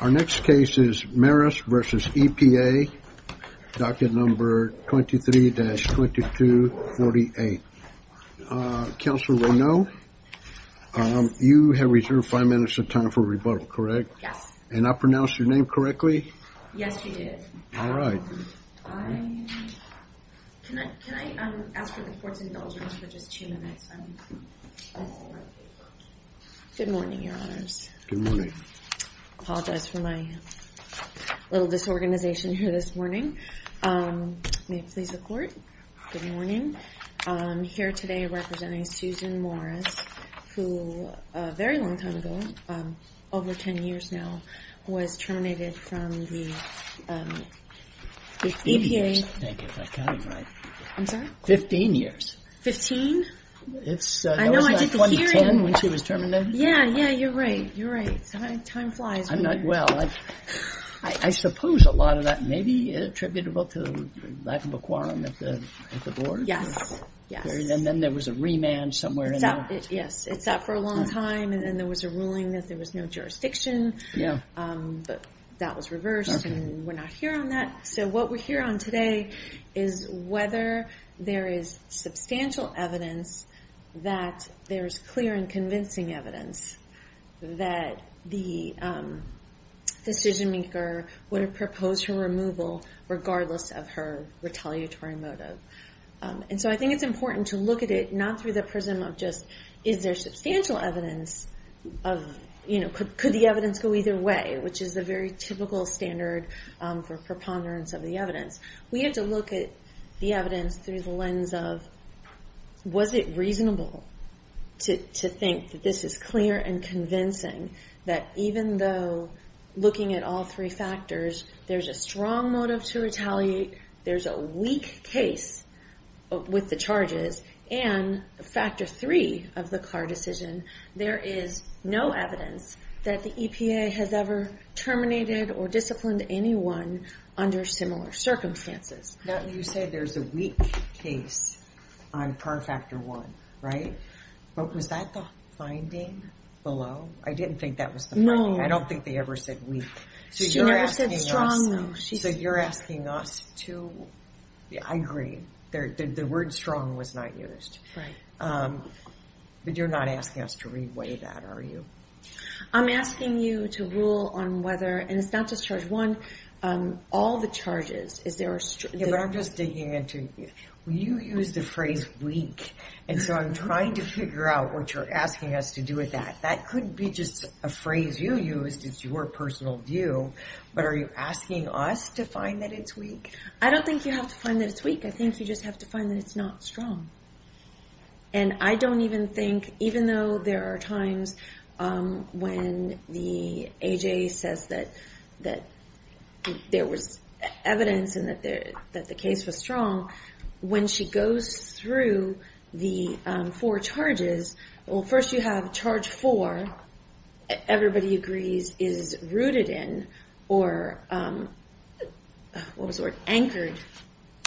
Our next case is Maris v. EPA, docket number 23-2248. Counselor Reneau, you have reserved five minutes of time for rebuttal, correct? Yes. And I pronounced your name correctly? Yes, you did. All right. Can I ask for the court's indulgence for just two minutes? Good morning, your honors. Good morning. Apologize for my little disorganization here this morning. May it please the court, good morning. I'm here today representing Susan Morris, who a very long time ago, over 10 years now, was terminated from the EPA. Fifteen years, I think, if I'm counting right. I'm sorry? Fifteen years. Fifteen? I know, I did the hearing. That wasn't 2010 when she was terminated? Yeah, yeah, you're right, you're right. Time flies. Well, I suppose a lot of that may be attributable to lack of a quorum at the board. Yes, yes. And then there was a remand somewhere in there. Yes, it sat for a long time, and then there was a ruling that there was no jurisdiction. Yeah. But that was reversed, and we're not here on that. So what we're here on today is whether there is substantial evidence that there is clear and convincing evidence that the decision maker would have proposed her removal, regardless of her retaliatory motive. And so I think it's important to look at it not through the prism of just, is there substantial evidence of, you know, could the evidence go either way, which is the very typical standard for preponderance of the evidence. We have to look at the evidence through the lens of, was it reasonable to think that this is clear and convincing, that even though looking at all three factors, there's a strong motive to retaliate, there's a weak case with the charges, and factor three of the Carr decision, there is no evidence that the EPA has ever terminated or disciplined anyone under similar circumstances. Now you said there's a weak case on Carr factor one, right? Was that the finding below? I didn't think that was the finding. No. I don't think they ever said weak. She never said strong. So you're asking us to, I agree, the word strong was not used. Right. But you're not asking us to reweigh that, are you? I'm asking you to rule on whether, and it's not just charge one, all the charges. Yeah, but I'm just digging into, you used the phrase weak, and so I'm trying to figure out what you're asking us to do with that. That could be just a phrase you used, it's your personal view, but are you asking us to find that it's weak? I don't think you have to find that it's weak. I think you just have to find that it's not strong. And I don't even think, even though there are times when the AJ says that there was evidence and that the case was strong, when she goes through the four charges, well, first you have charge four, everybody agrees is rooted in, or what was the word, anchored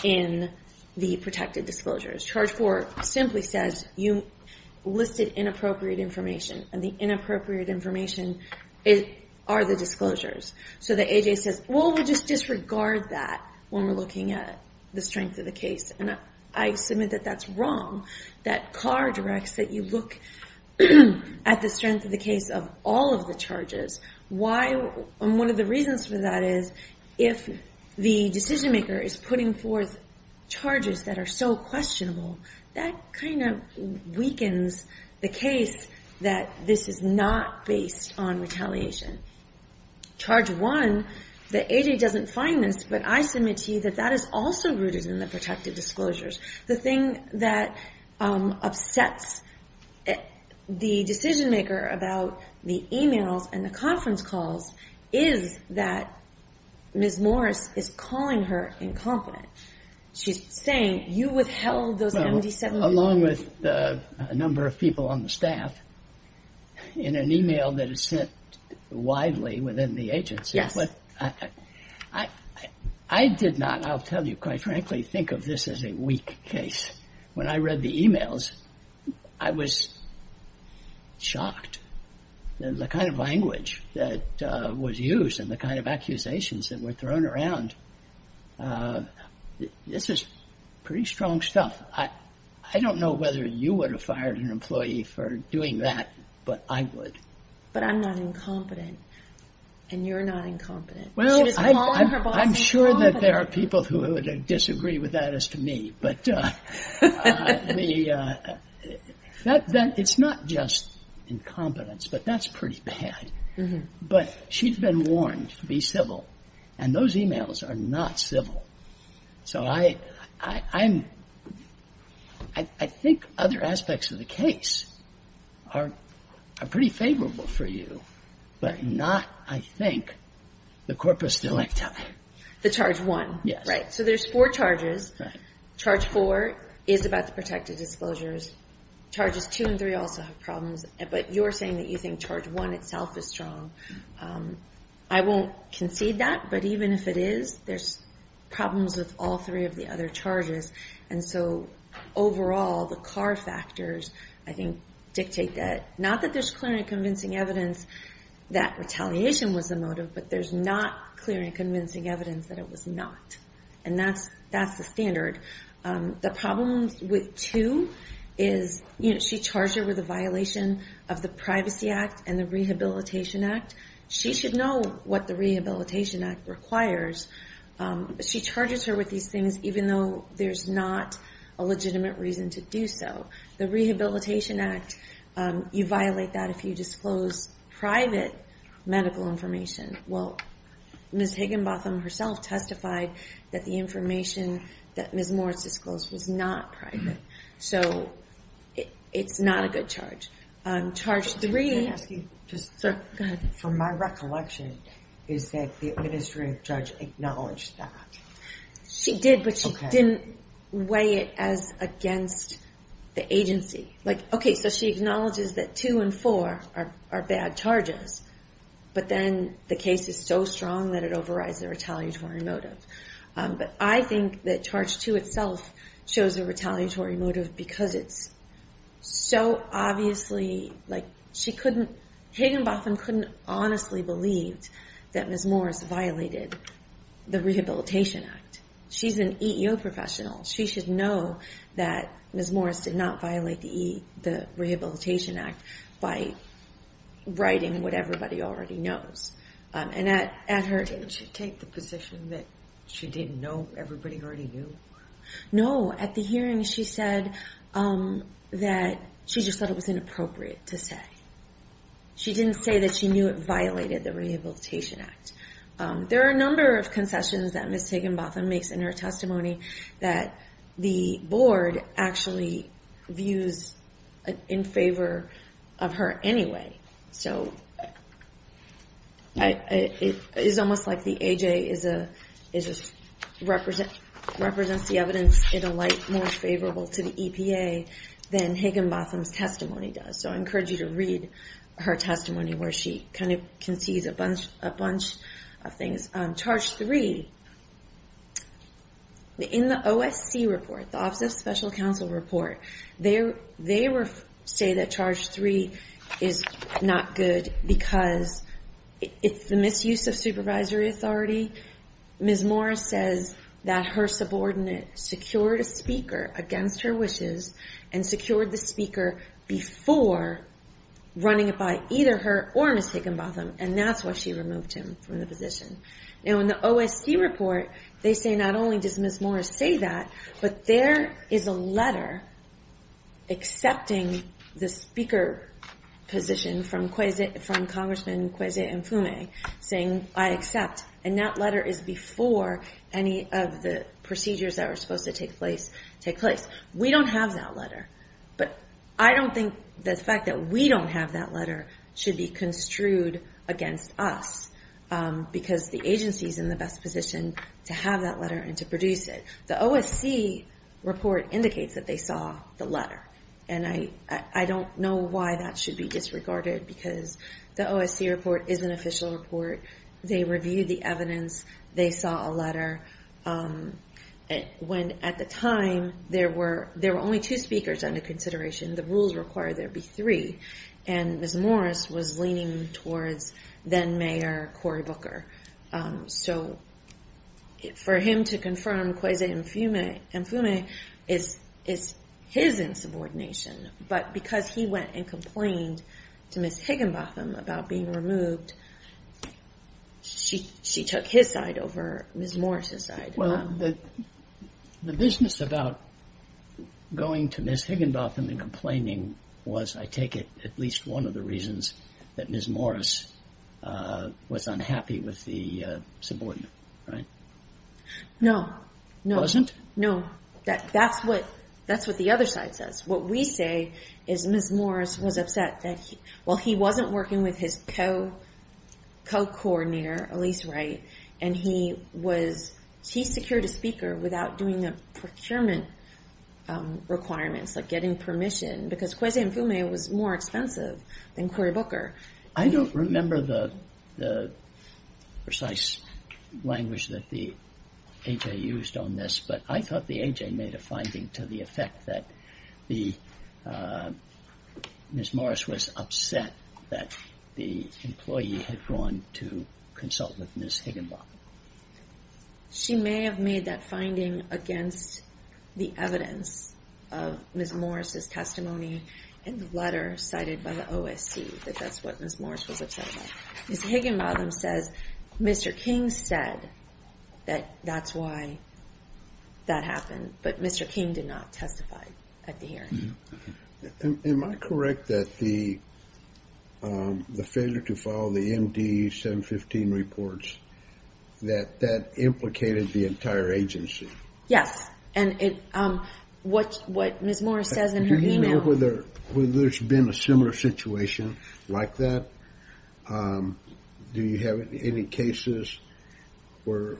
in the protected disclosures. Charge four simply says you listed inappropriate information, and the inappropriate information are the disclosures. So the AJ says, well, we'll just disregard that when we're looking at the strength of the case. And I submit that that's wrong. That Carr directs that you look at the strength of the case of all of the charges. And one of the reasons for that is if the decision-maker is putting forth charges that are so questionable, that kind of weakens the case that this is not based on retaliation. Charge one, the AJ doesn't find this, but I submit to you that that is also rooted in the protected disclosures. The thing that upsets the decision-maker about the e-mails and the conference calls is that Ms. Morris is calling her incompetent. She's saying you withheld those MD7s. Well, along with a number of people on the staff, in an e-mail that is sent widely within the agency. Yes. I did not, I'll tell you quite frankly, think of this as a weak case. When I read the e-mails, I was shocked. The kind of language that was used and the kind of accusations that were thrown around, this is pretty strong stuff. I don't know whether you would have fired an employee for doing that, but I would. But I'm not incompetent, and you're not incompetent. Well, I'm sure that there are people who would disagree with that as to me. But it's not just incompetence, but that's pretty bad. But she's been warned to be civil, and those e-mails are not civil. So I'm, I think other aspects of the case are pretty favorable for you, but not, I think, the corpus delicti. The Charge 1. Yes. Right. So there's four charges. Right. Charge 4 is about the protected disclosures. Charges 2 and 3 also have problems. But you're saying that you think Charge 1 itself is strong. I won't concede that, but even if it is, there's problems with all three of the other charges. And so overall, the car factors, I think, dictate that. Not that there's clear and convincing evidence that retaliation was the motive, but there's not clear and convincing evidence that it was not. And that's the standard. The problem with 2 is she charged her with a violation of the Privacy Act and the Rehabilitation Act. She should know what the Rehabilitation Act requires. She charges her with these things even though there's not a legitimate reason to do so. The Rehabilitation Act, you violate that if you disclose private medical information. Well, Ms. Higginbotham herself testified that the information that Ms. Morris disclosed was not private. So it's not a good charge. Charge 3. Can I ask you? Go ahead. From my recollection, is that the administrative judge acknowledged that? She did, but she didn't weigh it as against the agency. Like, okay, so she acknowledges that 2 and 4 are bad charges. But then the case is so strong that it overrides the retaliatory motive. But I think that charge 2 itself shows a retaliatory motive because it's so obviously, like, she couldn't, Higginbotham couldn't honestly believe that Ms. Morris violated the Rehabilitation Act. She's an EEO professional. She should know that Ms. Morris did not violate the Rehabilitation Act by writing what everybody already knows. And at her- Didn't she take the position that she didn't know everybody already knew? No. At the hearing, she said that she just thought it was inappropriate to say. She didn't say that she knew it violated the Rehabilitation Act. There are a number of concessions that Ms. Higginbotham makes in her testimony that the board actually views in favor of her anyway. So it's almost like the A.J. represents the evidence in a light more favorable to the EPA than Higginbotham's testimony does. So I encourage you to read her testimony where she kind of concedes a bunch of things. Charge 3. In the OSC report, the Office of Special Counsel report, they say that charge 3 is not good because it's the misuse of supervisory authority. Ms. Morris says that her subordinate secured a speaker against her wishes and secured the speaker before running it by either her or Ms. Higginbotham. And that's why she removed him from the position. Now, in the OSC report, they say not only does Ms. Morris say that, but there is a letter accepting the speaker position from Congressman Kwesi Mfume saying, I accept. And that letter is before any of the procedures that are supposed to take place take place. We don't have that letter. But I don't think the fact that we don't have that letter should be construed against us because the agency is in the best position to have that letter and to produce it. The OSC report indicates that they saw the letter. And I don't know why that should be disregarded because the OSC report is an official report. They reviewed the evidence. They saw a letter. At the time, there were only two speakers under consideration. The rules require there be three. And Ms. Morris was leaning towards then-Mayor Cory Booker. So for him to confirm Kwesi Mfume is his insubordination. But because he went and complained to Ms. Higginbotham about being removed, she took his side over Ms. Morris's side. Well, the business about going to Ms. Higginbotham and complaining was, I take it, at least one of the reasons that Ms. Morris was unhappy with the subordinate, right? No. Wasn't? No. That's what the other side says. What we say is Ms. Morris was upset that while he wasn't working with his co-coordinator, Elise Wright, and he secured a speaker without doing the procurement requirements, like getting permission, because Kwesi Mfume was more expensive than Cory Booker. I don't remember the precise language that the A.J. used on this, but I thought the A.J. made a finding to the effect that Ms. Morris was upset that the employee had gone to consult with Ms. Higginbotham. She may have made that finding against the evidence of Ms. Morris's testimony in the letter cited by the OSC that that's what Ms. Morris was upset about. Ms. Higginbotham says Mr. King said that that's why that happened, but Mr. King did not testify at the hearing. Am I correct that the failure to follow the MD-715 reports, that that implicated the entire agency? Yes, and what Ms. Morris says in her email. Do you know whether there's been a similar situation like that? Do you have any cases where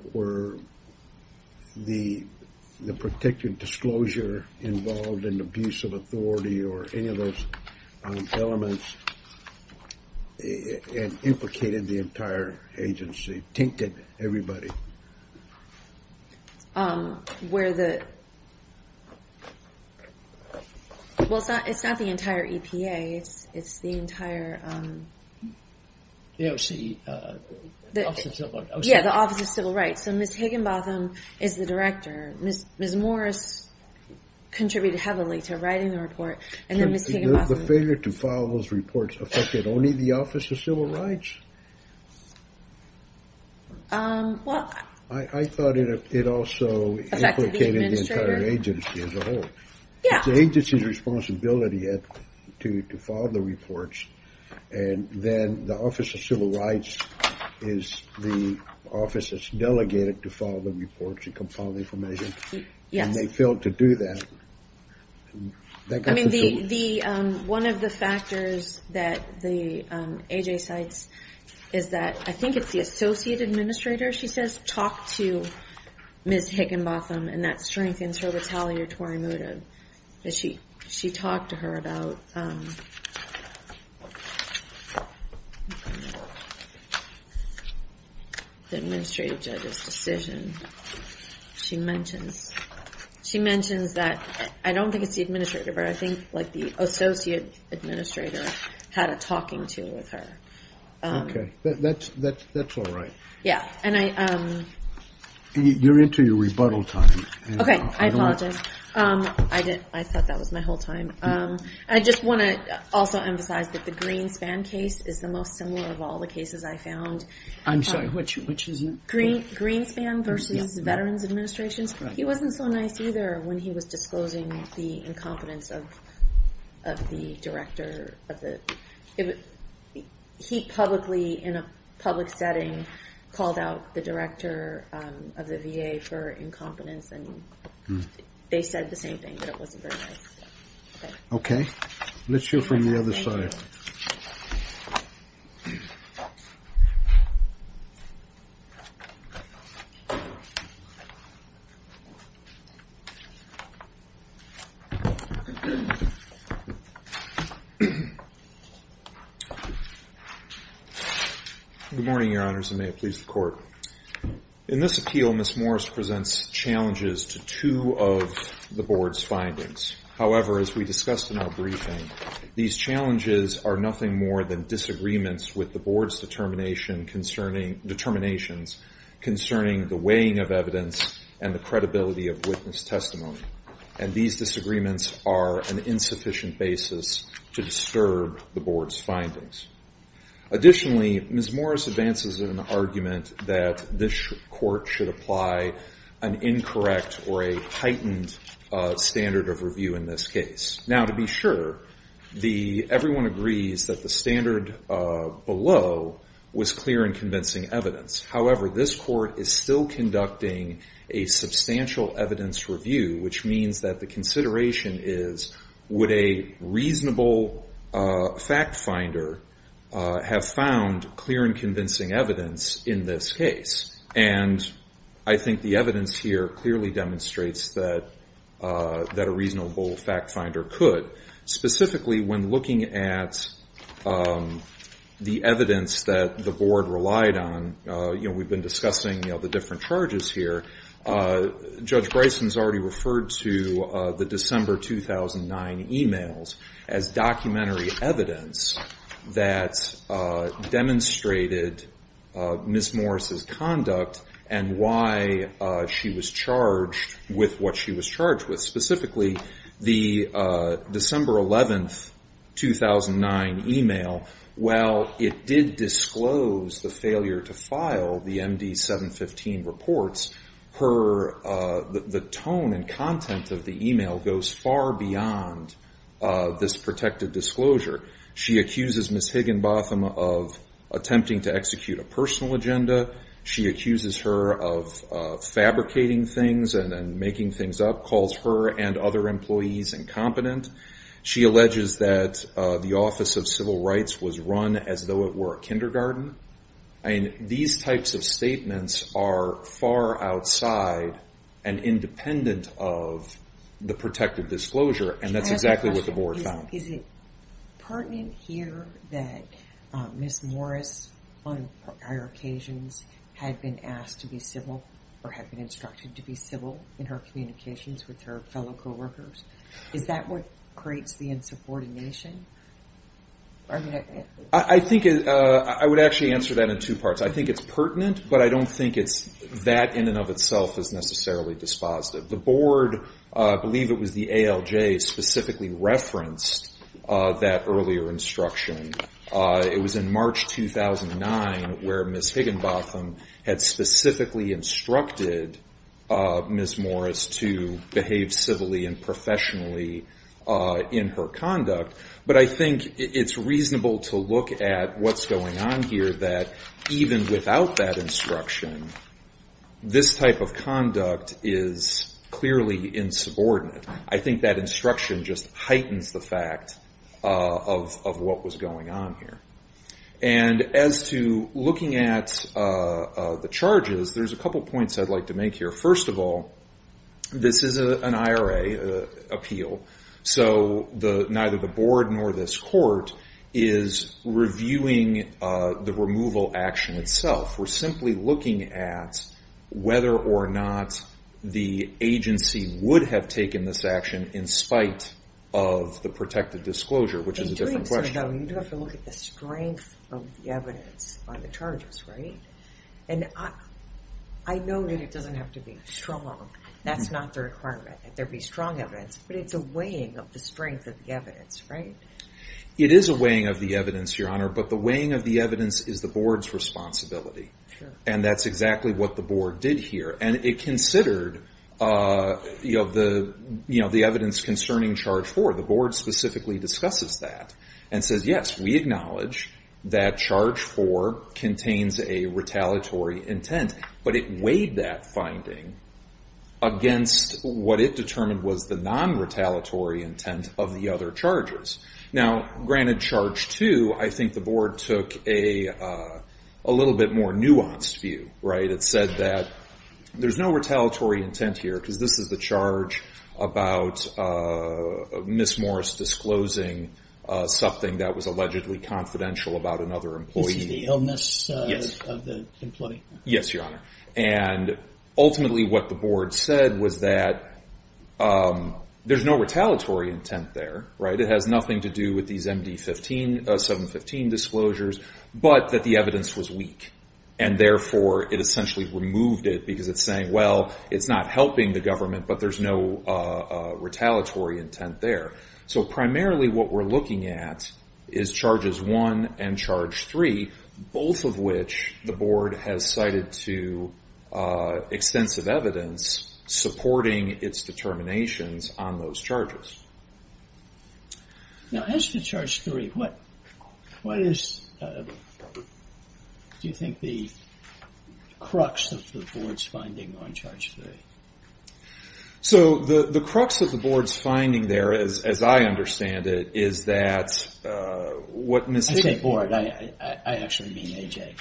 the particular disclosure involved an abuse of authority or any of those elements implicated the entire agency, tinkered everybody? It's not the entire EPA, it's the entire Office of Civil Rights. Ms. Higginbotham is the director. Ms. Morris contributed heavily to writing the report. The failure to follow those reports affected only the Office of Civil Rights? I thought it also implicated the entire agency as a whole. It's the agency's responsibility to follow the reports, and then the Office of Civil Rights is the office that's delegated to follow the reports and compile the information, and they failed to do that. One of the factors that AJ cites is that I think it's the associate administrator, she says, talked to Ms. Higginbotham, and that strengthens her retaliatory motive. She talked to her about the administrative judge's decision. She mentions that, I don't think it's the administrator, but I think the associate administrator had a talking to with her. Okay, that's all right. Yeah, and I... You're into your rebuttal time. Okay, I apologize. I thought that was my whole time. I just want to also emphasize that the Greenspan case is the most similar of all the cases I found. I'm sorry, which is it? Greenspan versus Veterans Administration. He wasn't so nice either when he was disclosing the incompetence of the director. He publicly, in a public setting, called out the director of the VA for incompetence, and they said the same thing, that it wasn't very nice. Okay, let's hear from the other side. Good morning, Your Honors, and may it please the Court. In this appeal, Ms. Morris presents challenges to two of the Board's findings. However, as we discussed in our briefing, these challenges are nothing more than disagreements with the Board's determinations concerning the weighing of evidence and the credibility of witness testimony. And these disagreements are an insufficient basis to disturb the Board's findings. Additionally, Ms. Morris advances an argument that this Court should apply an incorrect or a heightened standard of review in this case. Now, to be sure, everyone agrees that the standard below was clear and convincing evidence. However, this Court is still conducting a substantial evidence review, which means that the consideration is, would a reasonable fact finder have found clear and convincing evidence in this case? And I think the evidence here clearly demonstrates that a reasonable fact finder could. Specifically, when looking at the evidence that the Board relied on, you know, we've been discussing, you know, the different charges here. Judge Bryson's already referred to the December 2009 emails as documentary evidence that demonstrated Ms. Morris's conduct and why she was charged with what she was charged with. And specifically, the December 11, 2009 email, while it did disclose the failure to file the MD 715 reports, the tone and content of the email goes far beyond this protected disclosure. She accuses Ms. Higginbotham of attempting to execute a personal agenda. She accuses her of fabricating things and making things up, calls her and other employees incompetent. She alleges that the Office of Civil Rights was run as though it were a kindergarten. I mean, these types of statements are far outside and independent of the protected disclosure, and that's exactly what the Board found. Is it pertinent here that Ms. Morris, on prior occasions, had been asked to be civil or had been instructed to be civil in her communications with her fellow coworkers? Is that what creates the unsupported nation? I think I would actually answer that in two parts. I think it's pertinent, but I don't think that in and of itself is necessarily dispositive. The Board, I believe it was the ALJ, specifically referenced that earlier instruction. It was in March 2009 where Ms. Higginbotham had specifically instructed Ms. Morris to behave civilly and professionally in her conduct. But I think it's reasonable to look at what's going on here, that even without that instruction, this type of conduct is clearly insubordinate. I think that instruction just heightens the fact of what was going on here. And as to looking at the charges, there's a couple points I'd like to make here. First of all, this is an IRA appeal, so neither the Board nor this court is reviewing the removal action itself. We're simply looking at whether or not the agency would have taken this action in spite of the protected disclosure, which is a different question. In doing so, though, you'd have to look at the strength of the evidence on the charges, right? And I know that it doesn't have to be strong. That's not the requirement, that there be strong evidence. But it's a weighing of the strength of the evidence, right? It is a weighing of the evidence, Your Honor, but the weighing of the evidence is the Board's responsibility. And that's exactly what the Board did here. And it considered the evidence concerning Charge 4. The Board specifically discusses that and says, yes, we acknowledge that Charge 4 contains a retaliatory intent. But it weighed that finding against what it determined was the non-retaliatory intent of the other charges. Now, granted Charge 2, I think the Board took a little bit more nuanced view, right? It said that there's no retaliatory intent here because this is the charge about Ms. Morris disclosing something that was allegedly confidential about another employee. This is the illness of the employee? Yes, Your Honor. And ultimately what the Board said was that there's no retaliatory intent there, right? It has nothing to do with these MD-715 disclosures, but that the evidence was weak. And therefore, it essentially removed it because it's saying, well, it's not helping the government, but there's no retaliatory intent there. So primarily what we're looking at is Charges 1 and Charge 3, both of which the Board has cited to extensive evidence supporting its determinations on those charges. Now, as to Charge 3, what is, do you think, the crux of the Board's finding on Charge 3? So the crux of the Board's finding there, as I understand it, is that what Ms. — I say Board. I actually mean A.J.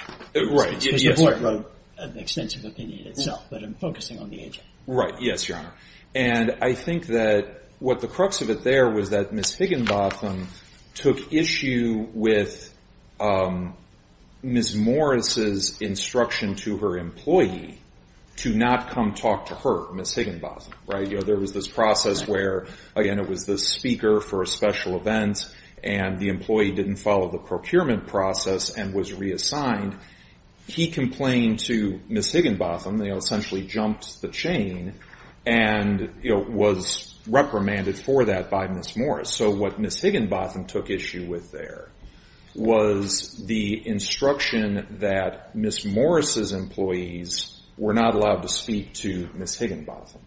Right. Because the Board wrote an extensive opinion itself, but I'm focusing on the A.J. Right. Yes, Your Honor. And I think that what the crux of it there was that Ms. Higginbotham took issue with Ms. Morris' instruction to her employee to not come talk to her, Ms. Higginbotham, right? You know, there was this process where, again, it was the speaker for a special event, and the employee didn't follow the procurement process and was reassigned. He complained to Ms. Higginbotham, essentially jumped the chain, and was reprimanded for that by Ms. Morris. So what Ms. Higginbotham took issue with there was the instruction that Ms. Morris' employees were not allowed to speak to Ms. Higginbotham.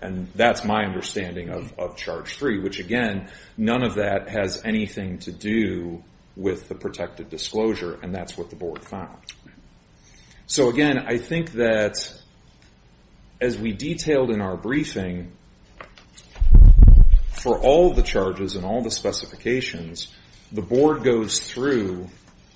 And that's my understanding of charge three, which, again, none of that has anything to do with the protected disclosure, and that's what the Board found. So, again, I think that as we detailed in our briefing, for all the charges and all the specifications, the Board goes through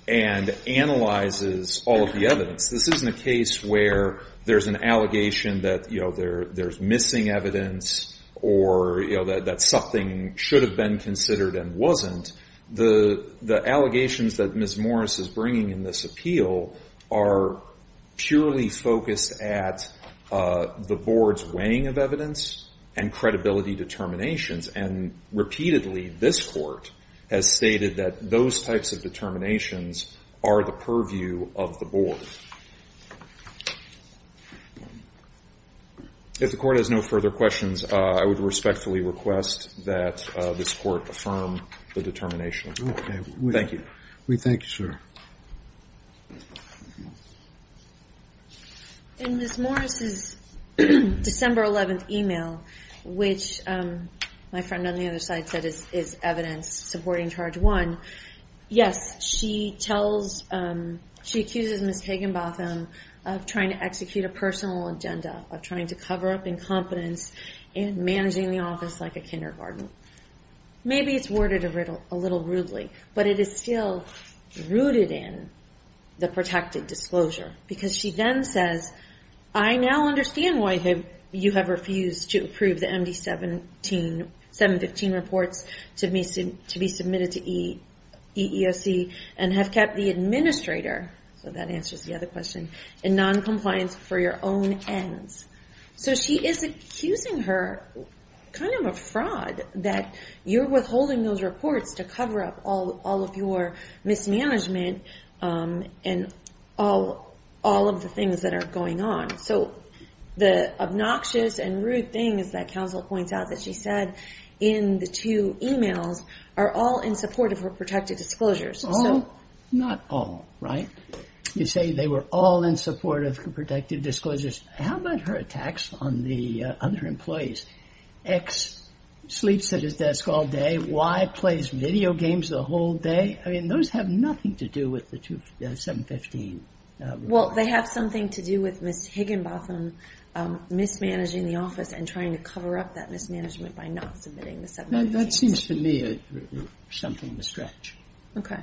and analyzes all of the evidence. This isn't a case where there's an allegation that, you know, there's missing evidence or, you know, that something should have been considered and wasn't. The allegations that Ms. Morris is bringing in this appeal are purely focused at the Board's weighing of evidence and credibility determinations. And repeatedly, this Court has stated that those types of determinations are the purview of the Board. If the Court has no further questions, I would respectfully request that this Court affirm the determination. Thank you. We thank you, sir. In Ms. Morris' December 11th email, which my friend on the other side said is evidence supporting charge one, yes, she accuses Ms. Higginbotham of trying to execute a personal agenda, of trying to cover up incompetence and managing the office like a kindergarten. Maybe it's worded a little rudely, but it is still rooted in the protected disclosure because she then says, I now understand why you have refused to approve the MD-715 reports to be submitted to EEOC and have kept the administrator, so that answers the other question, in noncompliance for your own ends. So she is accusing her kind of a fraud that you're withholding those reports to cover up all of your mismanagement and all of the things that are going on. So the obnoxious and rude things that counsel points out that she said in the two emails are all in support of her protected disclosures. Not all, right? You say they were all in support of her protected disclosures. How about her attacks on the other employees? X sleeps at his desk all day, Y plays video games the whole day. I mean, those have nothing to do with the 715. Well, they have something to do with Ms. Higginbotham mismanaging the office and trying to cover up that mismanagement by not submitting the 715s. That seems to me something to stretch. Okay.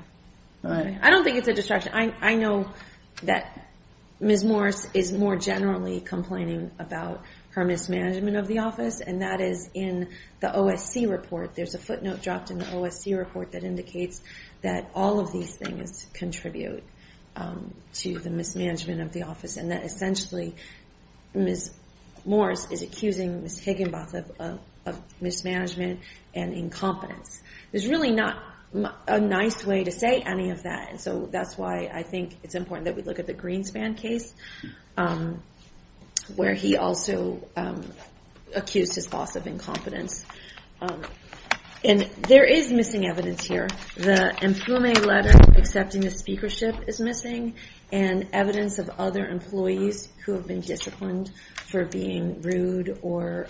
I don't think it's a distraction. I know that Ms. Morris is more generally complaining about her mismanagement of the office, and that is in the OSC report. There's a footnote dropped in the OSC report that indicates that all of these things contribute to the mismanagement of the office, and that essentially Ms. Morris is accusing Ms. Higginbotham of mismanagement and incompetence. There's really not a nice way to say any of that, so that's why I think it's important that we look at the Greenspan case, where he also accused his boss of incompetence. And there is missing evidence here. The Emplume letter accepting the speakership is missing, and evidence of other employees who have been disciplined for being rude or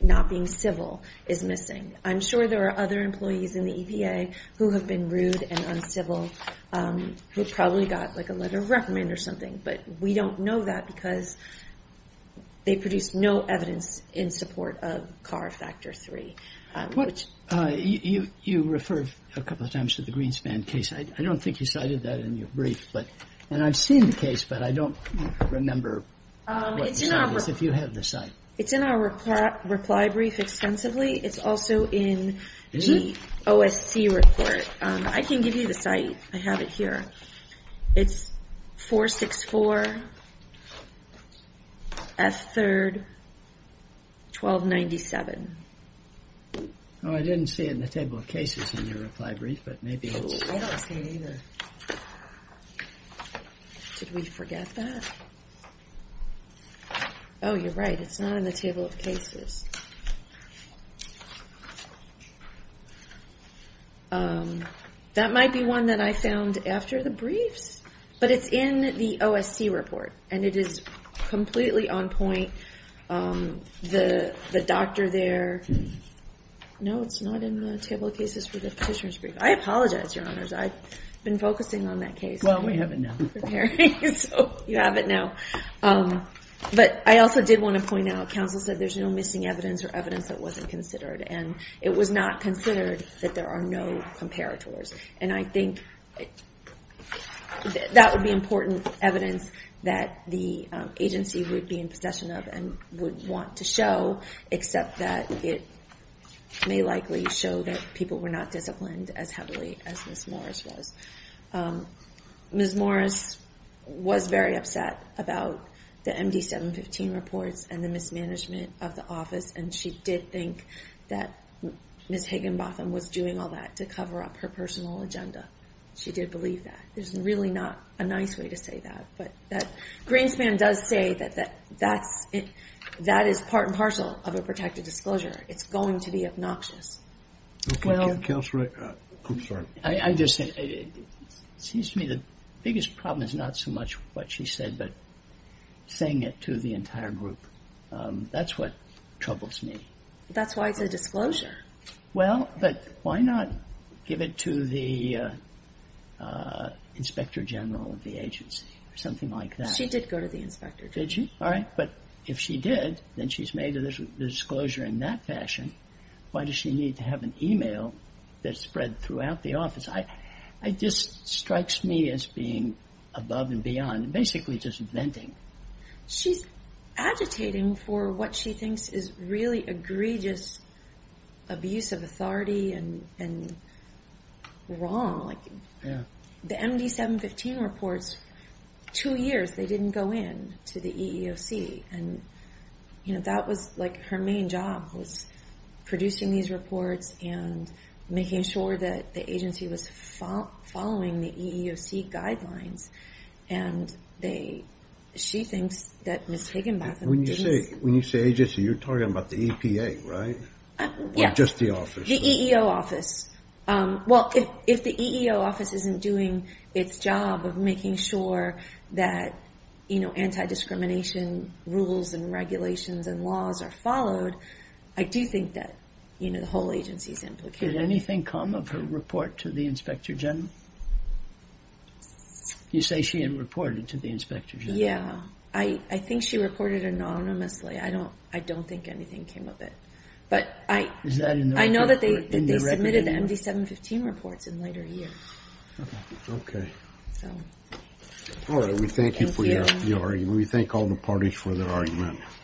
not being civil is missing. I'm sure there are other employees in the EPA who have been rude and uncivil who probably got a letter of recommend or something, but we don't know that because they produced no evidence in support of CAR Factor 3. You referred a couple of times to the Greenspan case. I don't think you cited that in your brief, and I've seen the case, but I don't remember what the site is, if you have the site. It's in our reply brief extensively. It's also in the OSC report. I can give you the site. I have it here. It's 464 F3, 1297. Oh, I didn't see it in the table of cases in your reply brief, but maybe it's there. I don't see it either. Did we forget that? Oh, you're right, it's not in the table of cases. That might be one that I found after the briefs, but it's in the OSC report, and it is completely on point. The doctor there. No, it's not in the table of cases for the petitioner's brief. I apologize, Your Honors. I've been focusing on that case. Well, we have it now. You have it now, but I also did want to point out. Council said there's no missing evidence or evidence that wasn't considered, and it was not considered that there are no comparators. And I think that would be important evidence that the agency would be in possession of and would want to show, except that it may likely show that people were not disciplined as heavily as Ms. Morris was. Ms. Morris was very upset about the MD-715 reports and the mismanagement of the office, and she did think that Ms. Higginbotham was doing all that to cover up her personal agenda. She did believe that. There's really not a nice way to say that. But Greenspan does say that that is part and parcel of a protected disclosure. It's going to be obnoxious. Well, I just think it seems to me the biggest problem is not so much what she said, but saying it to the entire group. That's what troubles me. That's why it's a disclosure. Well, but why not give it to the inspector general of the agency or something like that? She did go to the inspector general. Did she? All right. But if she did, then she's made the disclosure in that fashion. Why does she need to have an email that's spread throughout the office? It just strikes me as being above and beyond, basically just venting. She's agitating for what she thinks is really egregious abuse of authority and wrong. The MD-715 reports, two years they didn't go in to the EEOC. That was her main job, was producing these reports and making sure that the agency was following the EEOC guidelines. She thinks that Ms. Higginbotham didn't. When you say agency, you're talking about the EPA, right? Or just the office? The EEO office. Well, if the EEO office isn't doing its job of making sure that anti-discrimination rules and regulations and laws are followed, I do think that the whole agency is implicated. Did anything come of her report to the inspector general? You say she had reported to the inspector general. Yeah. I think she reported anonymously. I don't think anything came of it. I know that they submitted the MD-715 reports in later years. Okay. All right. We thank you for your argument. We thank all the parties for their argument.